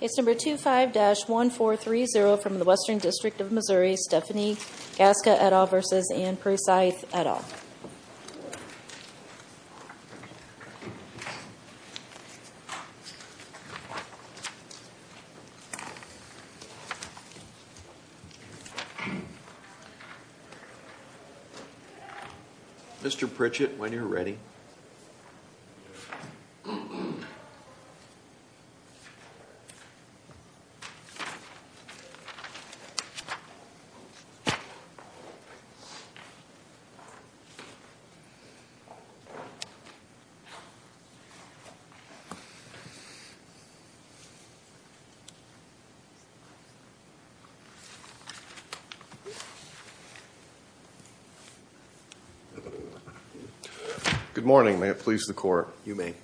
Case number 25-1430 from the Western District of Missouri, Stephanie Gasca et al. v. Anne Precythe et al. Mr. Pritchett, when you're ready. Good morning. May it please the Court. You may.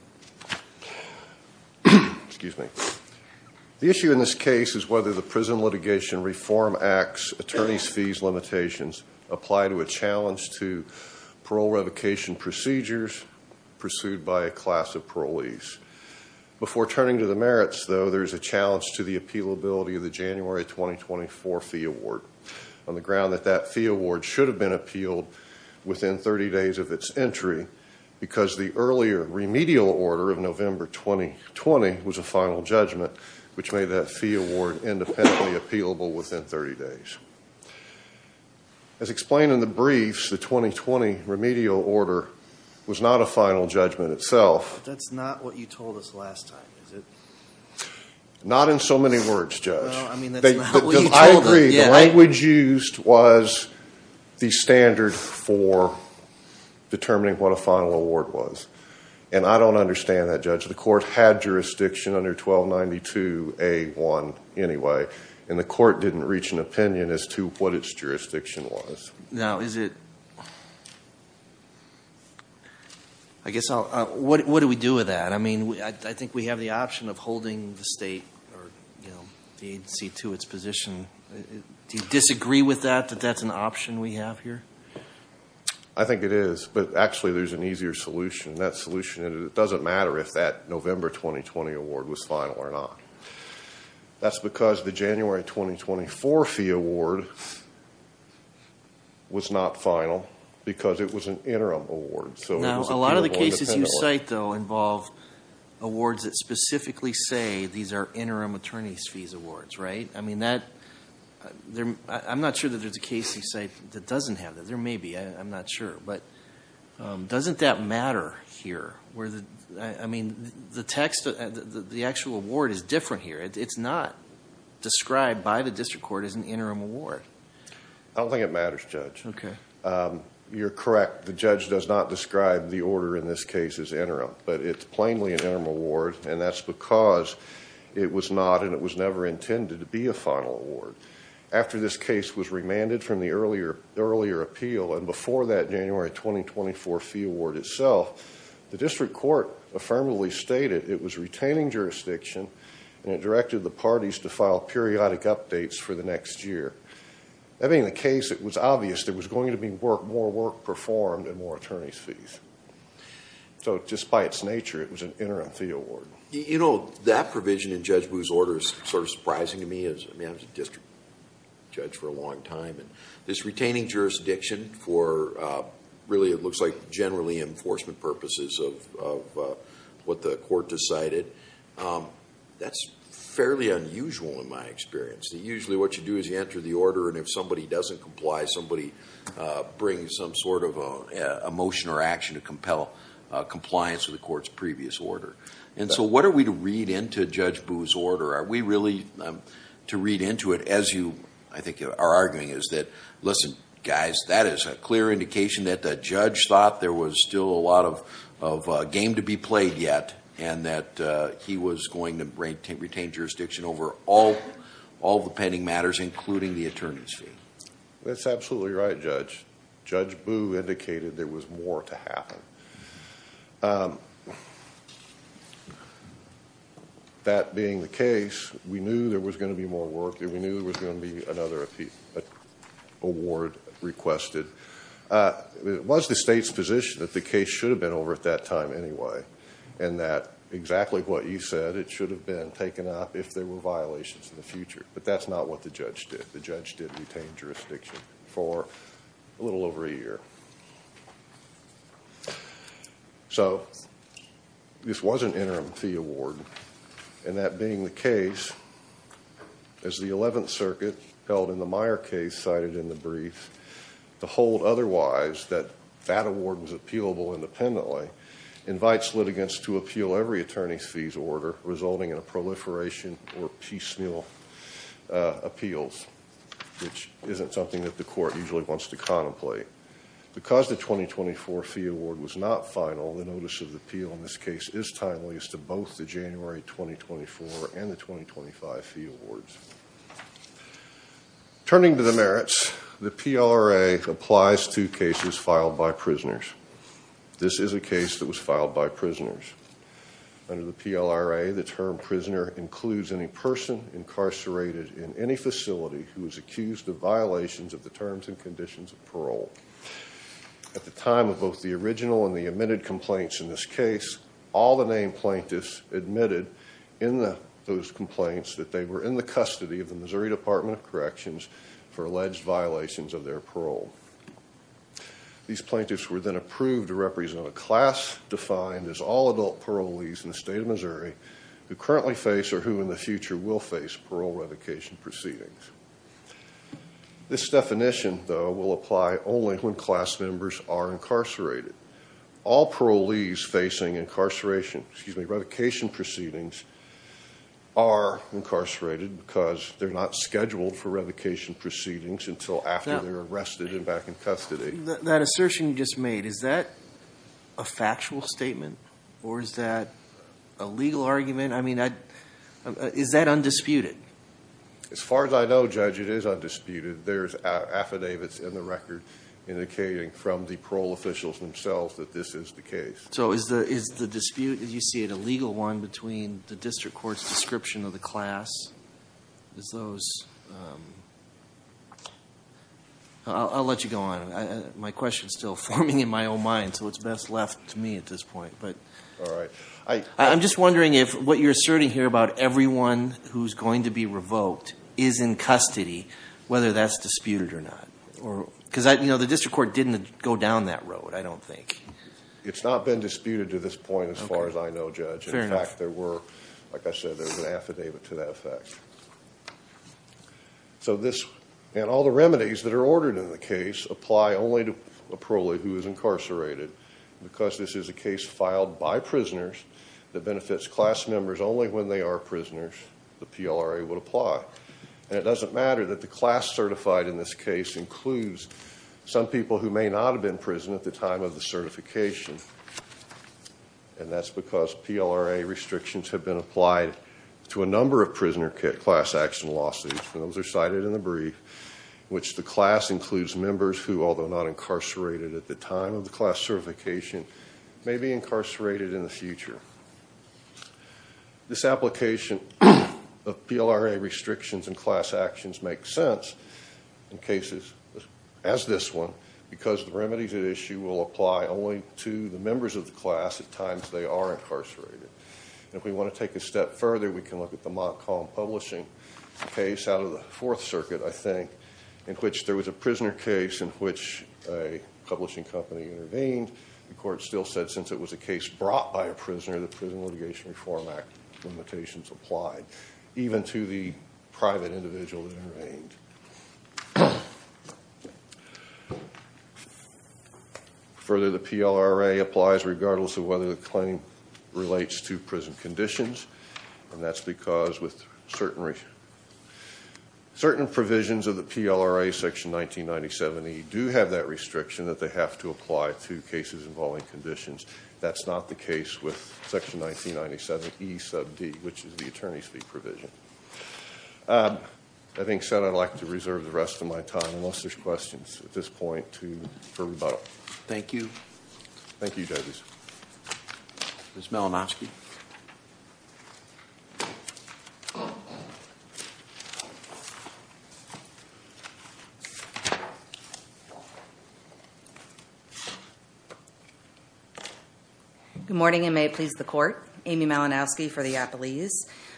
Excuse me. The issue in this case is whether the Prison Litigation Reform Act's attorney's fees limitations apply to a challenge to parole revocation procedures pursued by a class of parolees. Before turning to the merits, though, there is a challenge to the appealability of the January 2024 fee award on the ground that that fee award should have been appealed within 30 days of its entry because the earlier remedial order of November 2020 was a final judgment, which made that fee award independently appealable within 30 days. As explained in the briefs, the 2020 remedial order was not a final judgment itself. That's not what you told us last time, is it? Not in so many words, Judge. No, I mean, that's not what you told us. I agree. The language used was the standard for determining what a final award was, and I don't understand that, Judge. The Court had jurisdiction under 1292A1 anyway, and the Court didn't reach an opinion as to what its jurisdiction was. Now, is it – I guess I'll – what do we do with that? I mean, I think we have the option of holding the state or, you know, the agency to its position. Do you disagree with that, that that's an option we have here? I think it is, but actually there's an easier solution, and that solution – it doesn't matter if that November 2020 award was final or not. That's because the January 2024 fee award was not final because it was an interim award. Now, a lot of the cases you cite, though, involve awards that specifically say these are interim attorney's fees awards, right? I mean, that – I'm not sure that there's a case you cite that doesn't have that. There may be. I'm not sure. But doesn't that matter here where the – I mean, the text – the actual award is different here. It's not described by the district court as an interim award. I don't think it matters, Judge. Okay. You're correct. The judge does not describe the order in this case as interim, but it's plainly an interim award, and that's because it was not and it was never intended to be a final award. After this case was remanded from the earlier appeal and before that January 2024 fee award itself, the district court affirmatively stated it was retaining jurisdiction and it directed the parties to file periodic updates for the next year. Having the case, it was obvious there was going to be more work performed and more attorney's fees. So, just by its nature, it was an interim fee award. You know, that provision in Judge Booz's order is sort of surprising to me. I mean, I was a district judge for a long time. This retaining jurisdiction for really it looks like generally enforcement purposes of what the court decided, that's fairly unusual in my experience. Usually, what you do is you enter the order, and if somebody doesn't comply, somebody brings some sort of a motion or action to compel compliance with the court's previous order. And so, what are we to read into Judge Booz's order? Are we really to read into it as you, I think, are arguing is that, listen, guys, that is a clear indication that the judge thought there was still a lot of game to be played yet and that he was going to retain jurisdiction over all the pending matters, including the attorney's fee. That's absolutely right, Judge. Judge Booz indicated there was more to happen. That being the case, we knew there was going to be more work, and we knew there was going to be another award requested. It was the state's position that the case should have been over at that time anyway and that exactly what you said, it should have been taken up if there were violations in the future. But that's not what the judge did. The judge did retain jurisdiction for a little over a year. So, this was an interim fee award, and that being the case, as the Eleventh Circuit held in the Meyer case cited in the brief, to hold otherwise that that award was appealable independently invites litigants to appeal every attorney's fees order resulting in a proliferation or piecemeal appeals, which isn't something that the court usually wants to contemplate. Because the 2024 fee award was not final, the notice of appeal in this case is timely as to both the January 2024 and the 2025 fee awards. Turning to the merits, the PRA applies to cases filed by prisoners. This is a case that was filed by prisoners. Under the PLRA, the term prisoner includes any person incarcerated in any facility who is accused of violations of the terms and conditions of parole. At the time of both the original and the admitted complaints in this case, all the named plaintiffs admitted in those complaints that they were in the custody of the Missouri Department of Corrections for alleged violations of their parole. These plaintiffs were then approved to represent a class defined as all adult parolees in the state of Missouri who currently face or who in the future will face parole revocation proceedings. This definition, though, will apply only when class members are incarcerated. All parolees facing incarceration, excuse me, revocation proceedings are incarcerated because they're not scheduled for revocation proceedings until after they're arrested and back in custody. That assertion you just made, is that a factual statement or is that a legal argument? I mean, is that undisputed? As far as I know, Judge, it is undisputed. There's affidavits in the record indicating from the parole officials themselves that this is the case. So is the dispute, as you see it, a legal one between the district court's description of the class? Is those... I'll let you go on. My question's still forming in my own mind, so it's best left to me at this point. All right. I'm just wondering if what you're asserting here about everyone who's going to be revoked is in custody, whether that's disputed or not. Because the district court didn't go down that road, I don't think. It's not been disputed to this point as far as I know, Judge. In fact, there were, like I said, there was an affidavit to that effect. So this and all the remedies that are ordered in the case apply only to a parolee who is incarcerated. Because this is a case filed by prisoners that benefits class members only when they are prisoners, the PLRA would apply. And it doesn't matter that the class certified in this case includes some people who may not have been in prison at the time of the certification. And that's because PLRA restrictions have been applied to a number of prisoner class action lawsuits. Those are cited in the brief, which the class includes members who, although not incarcerated at the time of the class certification, may be incarcerated in the future. This application of PLRA restrictions in class actions makes sense in cases as this one, because the remedies at issue will apply only to the members of the class at times they are incarcerated. And if we want to take a step further, we can look at the Montcalm Publishing case out of the Fourth Circuit, I think, in which there was a prisoner case in which a publishing company intervened. The court still said since it was a case brought by a prisoner, the Prison Litigation Reform Act limitations applied, even to the private individual that intervened. Further, the PLRA applies regardless of whether the claim relates to prison conditions. And that's because with certain provisions of the PLRA, section 1997E, do have that restriction that they have to apply to cases involving conditions. That's not the case with section 1997E sub D, which is the attorney's fee provision. Having said that, I'd like to reserve the rest of my time, unless there's questions at this point, for rebuttal. Thank you. Thank you, Douglas. Ms. Malinowski? Thank you. Good morning, and may it please the court. Amy Malinowski for the Appellees.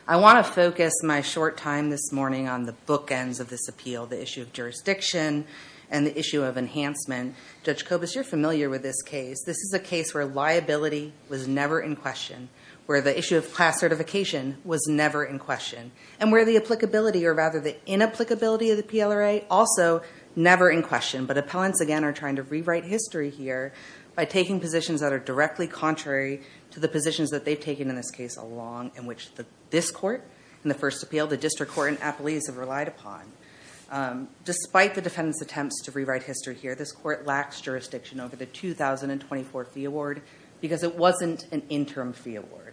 I want to focus my short time this morning on the bookends of this appeal, the issue of jurisdiction and the issue of enhancement. Judge Kobus, you're familiar with this case. This is a case where liability was never in question, where the issue of class certification was never in question, and where the applicability, or rather the inapplicability of the PLRA, also never in question. But appellants, again, are trying to rewrite history here by taking positions that are directly contrary to the positions that they've taken in this case along in which this court, in the first appeal, the district court, and appellees have relied upon. Despite the defendant's attempts to rewrite history here, this court lacks jurisdiction over the 2024 fee award, because it wasn't an interim fee award.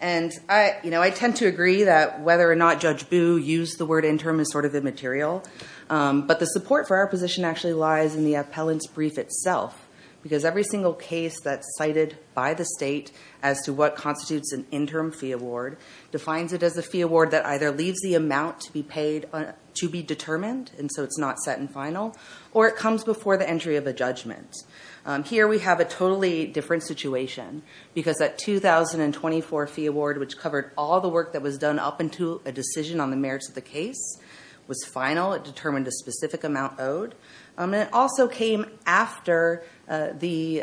And I tend to agree that whether or not Judge Boo used the word interim is sort of immaterial, but the support for our position actually lies in the appellant's brief itself, because every single case that's cited by the state as to what constitutes an interim fee award defines it as a fee award that either leaves the amount to be determined, and so it's not set and final, or it comes before the entry of a judgment. Here we have a totally different situation, because that 2024 fee award, which covered all the work that was done up until a decision on the merits of the case, was final. It determined a specific amount owed. And it also came after the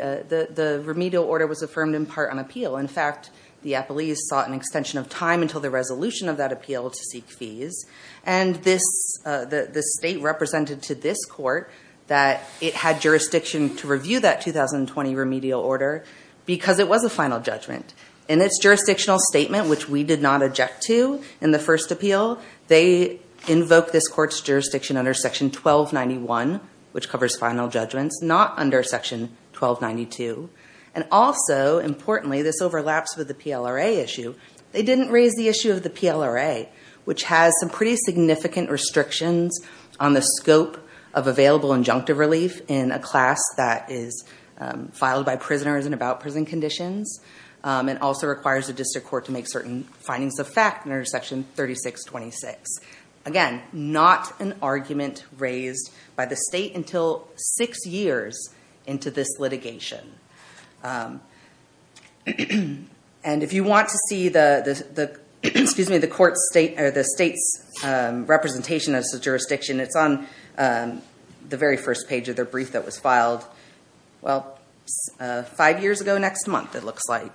remedial order was affirmed in part on appeal. In fact, the appellees sought an extension of time until the resolution of that appeal to seek fees, and the state represented to this court that it had jurisdiction to review that 2020 remedial order, because it was a final judgment. In its jurisdictional statement, which we did not object to in the first appeal, they invoke this court's jurisdiction under section 1291, which covers final judgments, not under section 1292. And also, importantly, this overlaps with the PLRA issue. They didn't raise the issue of the PLRA, which has some pretty significant restrictions on the scope of available injunctive relief in a class that is filed by prisoners and about prison conditions. It also requires the district court to make certain findings of fact under section 3626. Again, not an argument raised by the state until six years into this litigation. And if you want to see the state's representation as a jurisdiction, it's on the very first page of their brief that was filed five years ago next month, it looks like.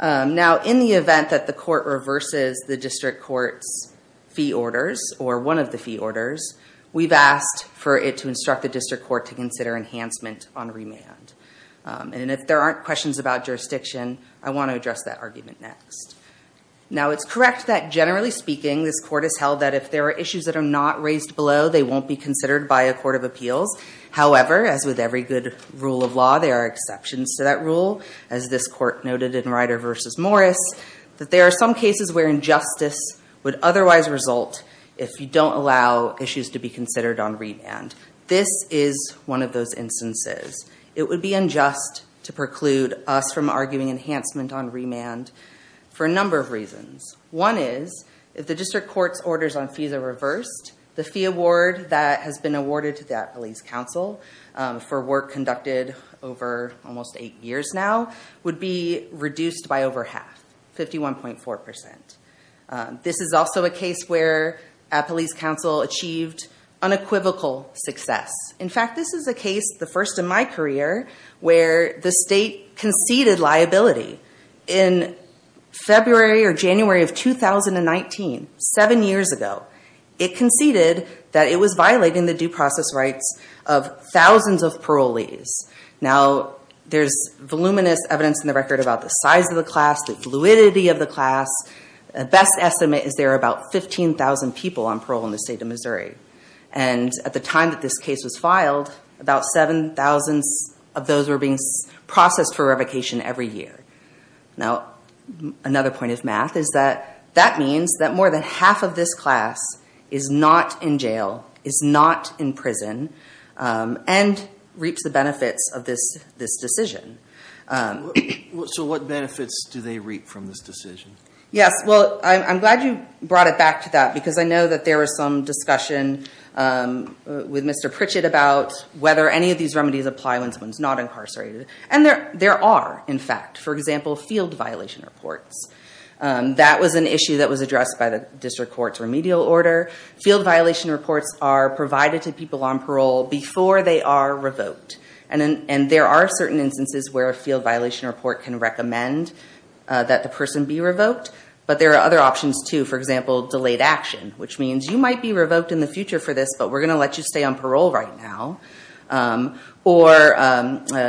Now, in the event that the court reverses the district court's fee orders, or one of the fee orders, we've asked for it to instruct the district court to consider enhancement on remand. And if there aren't questions about jurisdiction, I want to address that argument next. Now, it's correct that, generally speaking, this court has held that if there are issues that are not raised below, they won't be considered by a court of appeals. However, as with every good rule of law, there are exceptions to that rule. As this court noted in Ryder v. Morris, that there are some cases where injustice would otherwise result if you don't allow issues to be considered on remand. This is one of those instances. It would be unjust to preclude us from arguing enhancement on remand for a number of reasons. One is, if the district court's orders on fees are reversed, the fee award that has been awarded to the Appalachian Police Council for work conducted over almost eight years now would be reduced by over half, 51.4%. This is also a case where Appalachian Police Council achieved unequivocal success. In fact, this is a case, the first in my career, where the state conceded liability. In February or January of 2019, seven years ago, it conceded that it was violating the due process rights of thousands of parolees. Now, there's voluminous evidence in the record about the size of the class, the fluidity of the class. The best estimate is there are about 15,000 people on parole in the state of Missouri. At the time that this case was filed, about 7,000 of those were being processed for revocation every year. Now, another point of math is that that means that more than half of this class is not in jail, is not in prison, and reaps the benefits of this decision. So what benefits do they reap from this decision? Yes, well, I'm glad you brought it back to that, because I know that there was some discussion with Mr. Pritchett about whether any of these remedies apply when someone's not incarcerated. And there are, in fact. For example, field violation reports. That was an issue that was addressed by the district court's remedial order. Field violation reports are provided to people on parole before they are revoked. And there are certain instances where a field violation report can recommend that the person be revoked. But there are other options, too. For example, delayed action, which means you might be revoked in the future for this, but we're going to let you stay on parole right now. Or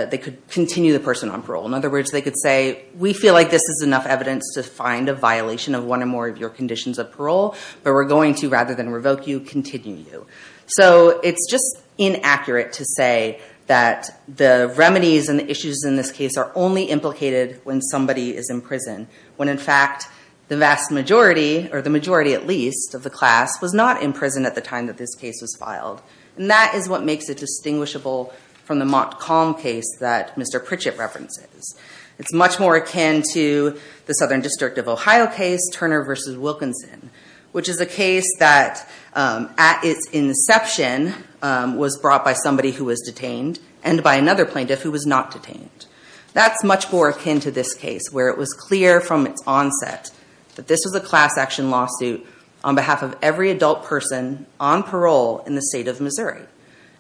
they could continue the person on parole. In other words, they could say, we feel like this is enough evidence to find a violation of one or more of your conditions of parole, but we're going to, rather than revoke you, continue you. So it's just inaccurate to say that the remedies and the issues in this case are only implicated when somebody is in prison. When, in fact, the vast majority, or the majority at least, of the class was not in prison at the time that this case was filed. And that is what makes it distinguishable from the Montcalm case that Mr. Pritchett references. It's much more akin to the Southern District of Ohio case, Turner v. Wilkinson, which is a case that, at its inception, was brought by somebody who was detained and by another plaintiff who was not detained. That's much more akin to this case, where it was clear from its onset that this was a class action lawsuit on behalf of every adult person on parole in the state of Missouri.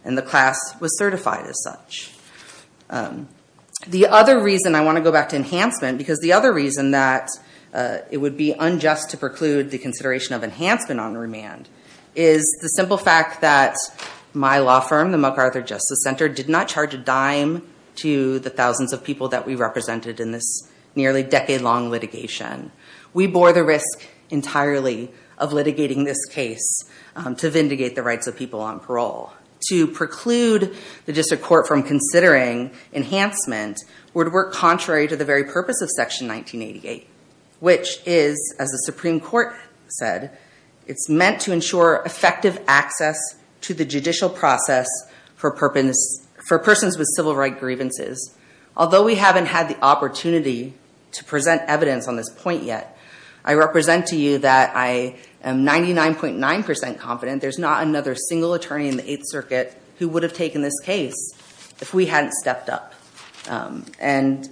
And the class was certified as such. The other reason I want to go back to enhancement, because the other reason that it would be unjust to preclude the consideration of enhancement on remand, is the simple fact that my law firm, the MacArthur Justice Center, did not charge a dime to the thousands of people that we represented in this nearly decade-long litigation. We bore the risk entirely of litigating this case to vindicate the rights of people on parole. To preclude the district court from considering enhancement would work contrary to the very purpose of Section 1988, which is, as the Supreme Court said, it's meant to ensure effective access to the judicial process for persons with civil right grievances. Although we haven't had the opportunity to present evidence on this point yet, I represent to you that I am 99.9% confident there's not another single attorney in the Eighth Circuit who would have taken this case if we hadn't stepped up. And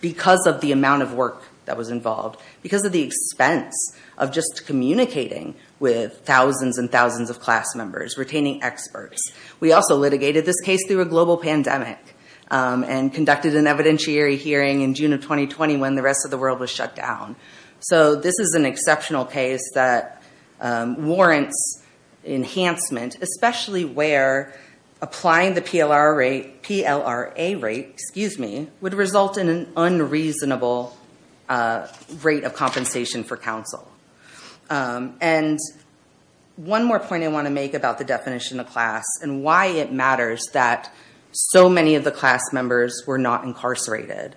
because of the amount of work that was involved, because of the expense of just communicating with thousands and thousands of class members, retaining experts. We also litigated this case through a global pandemic, and conducted an evidentiary hearing in June of 2020 when the rest of the world was shut down. So this is an exceptional case that warrants enhancement, especially where applying the PLRA rate would result in an unreasonable rate of compensation for counsel. And one more point I want to make about the definition of class and why it matters that so many of the class members were not incarcerated.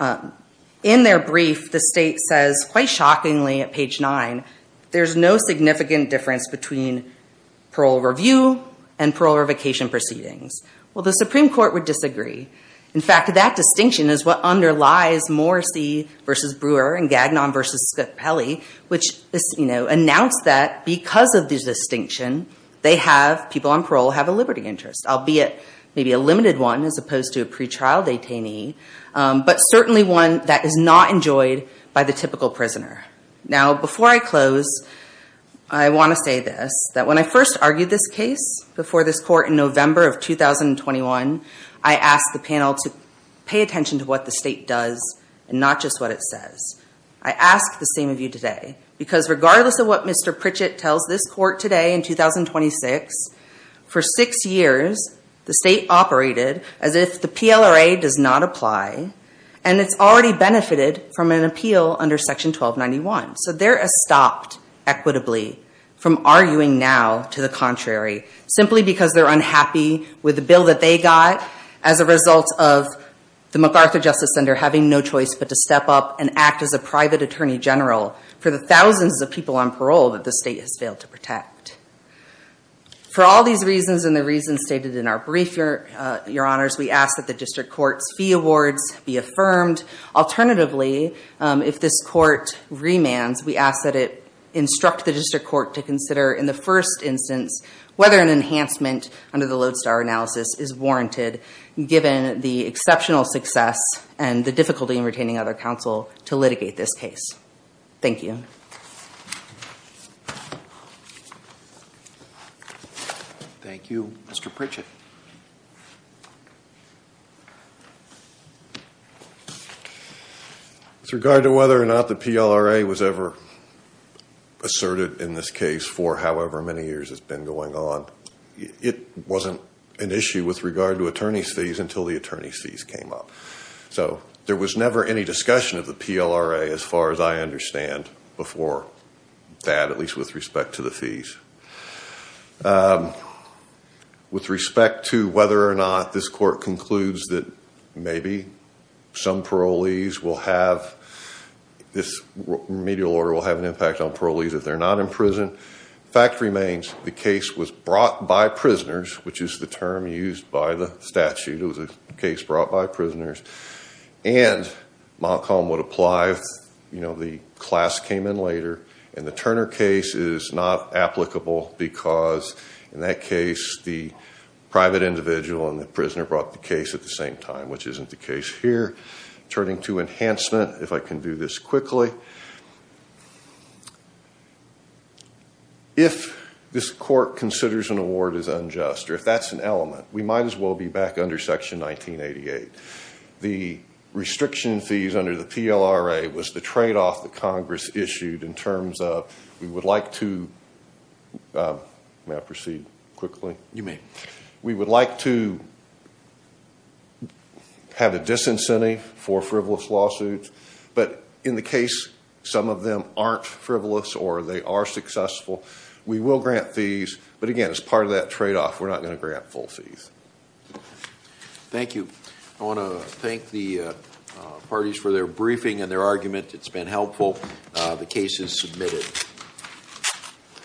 In their brief, the state says, quite shockingly, at page nine, there's no significant difference between parole review and parole revocation proceedings. Well, the Supreme Court would disagree. In fact, that distinction is what underlies Morrissey v. Brewer and Gagnon v. Scapelli, which announced that because of this distinction, people on parole have a liberty interest, albeit maybe a limited one as opposed to a pretrial detainee, but certainly one that is not enjoyed by the typical prisoner. Now, before I close, I want to say this, that when I first argued this case before this court in November of 2021, I asked the panel to pay attention to what the state does and not just what it says. I ask the same of you today, because regardless of what Mr. Pritchett tells this court today in 2026, for six years, the state operated as if the PLRA does not apply, and it's already benefited from an appeal under Section 1291. So they're stopped equitably from arguing now to the contrary, simply because they're unhappy with the bill that they got as a result of the MacArthur Justice Center having no choice but to step up and act as a private attorney general for the thousands of people on parole that the state has failed to protect. For all these reasons and the reasons stated in our brief, Your Honors, we ask that the district court's fee awards be affirmed. Alternatively, if this court remands, we ask that it instruct the district court to consider in the first instance whether an enhancement under the Lodestar analysis is warranted, given the exceptional success and the difficulty in retaining other counsel to litigate this case. Thank you. Thank you. Mr. Pritchett. With regard to whether or not the PLRA was ever asserted in this case for however many years it's been going on, it wasn't an issue with regard to attorney's fees until the attorney's fees came up. So there was never any discussion of the PLRA as far as I understand before that, at least with respect to the fees. With respect to whether or not this court concludes that maybe some parolees will have, this remedial order will have an impact on parolees if they're not in prison, the fact remains the case was brought by prisoners, which is the term used by the statute. It was a case brought by prisoners and Montcalm would apply, you know, the class came in later. And the Turner case is not applicable because in that case, the private individual and the prisoner brought the case at the same time, which isn't the case here. Turning to enhancement, if I can do this quickly. If this court considers an award is unjust or if that's an element, we might as well be back under Section 1988. The restriction fees under the PLRA was the tradeoff that Congress issued in terms of we would like to proceed quickly. You may. We would like to have a disincentive for frivolous lawsuits. But in the case, some of them aren't frivolous or they are successful. We will grant fees. But again, as part of that tradeoff, we're not going to grant full fees. Thank you. I want to thank the parties for their briefing and their argument. It's been helpful. The case is submitted.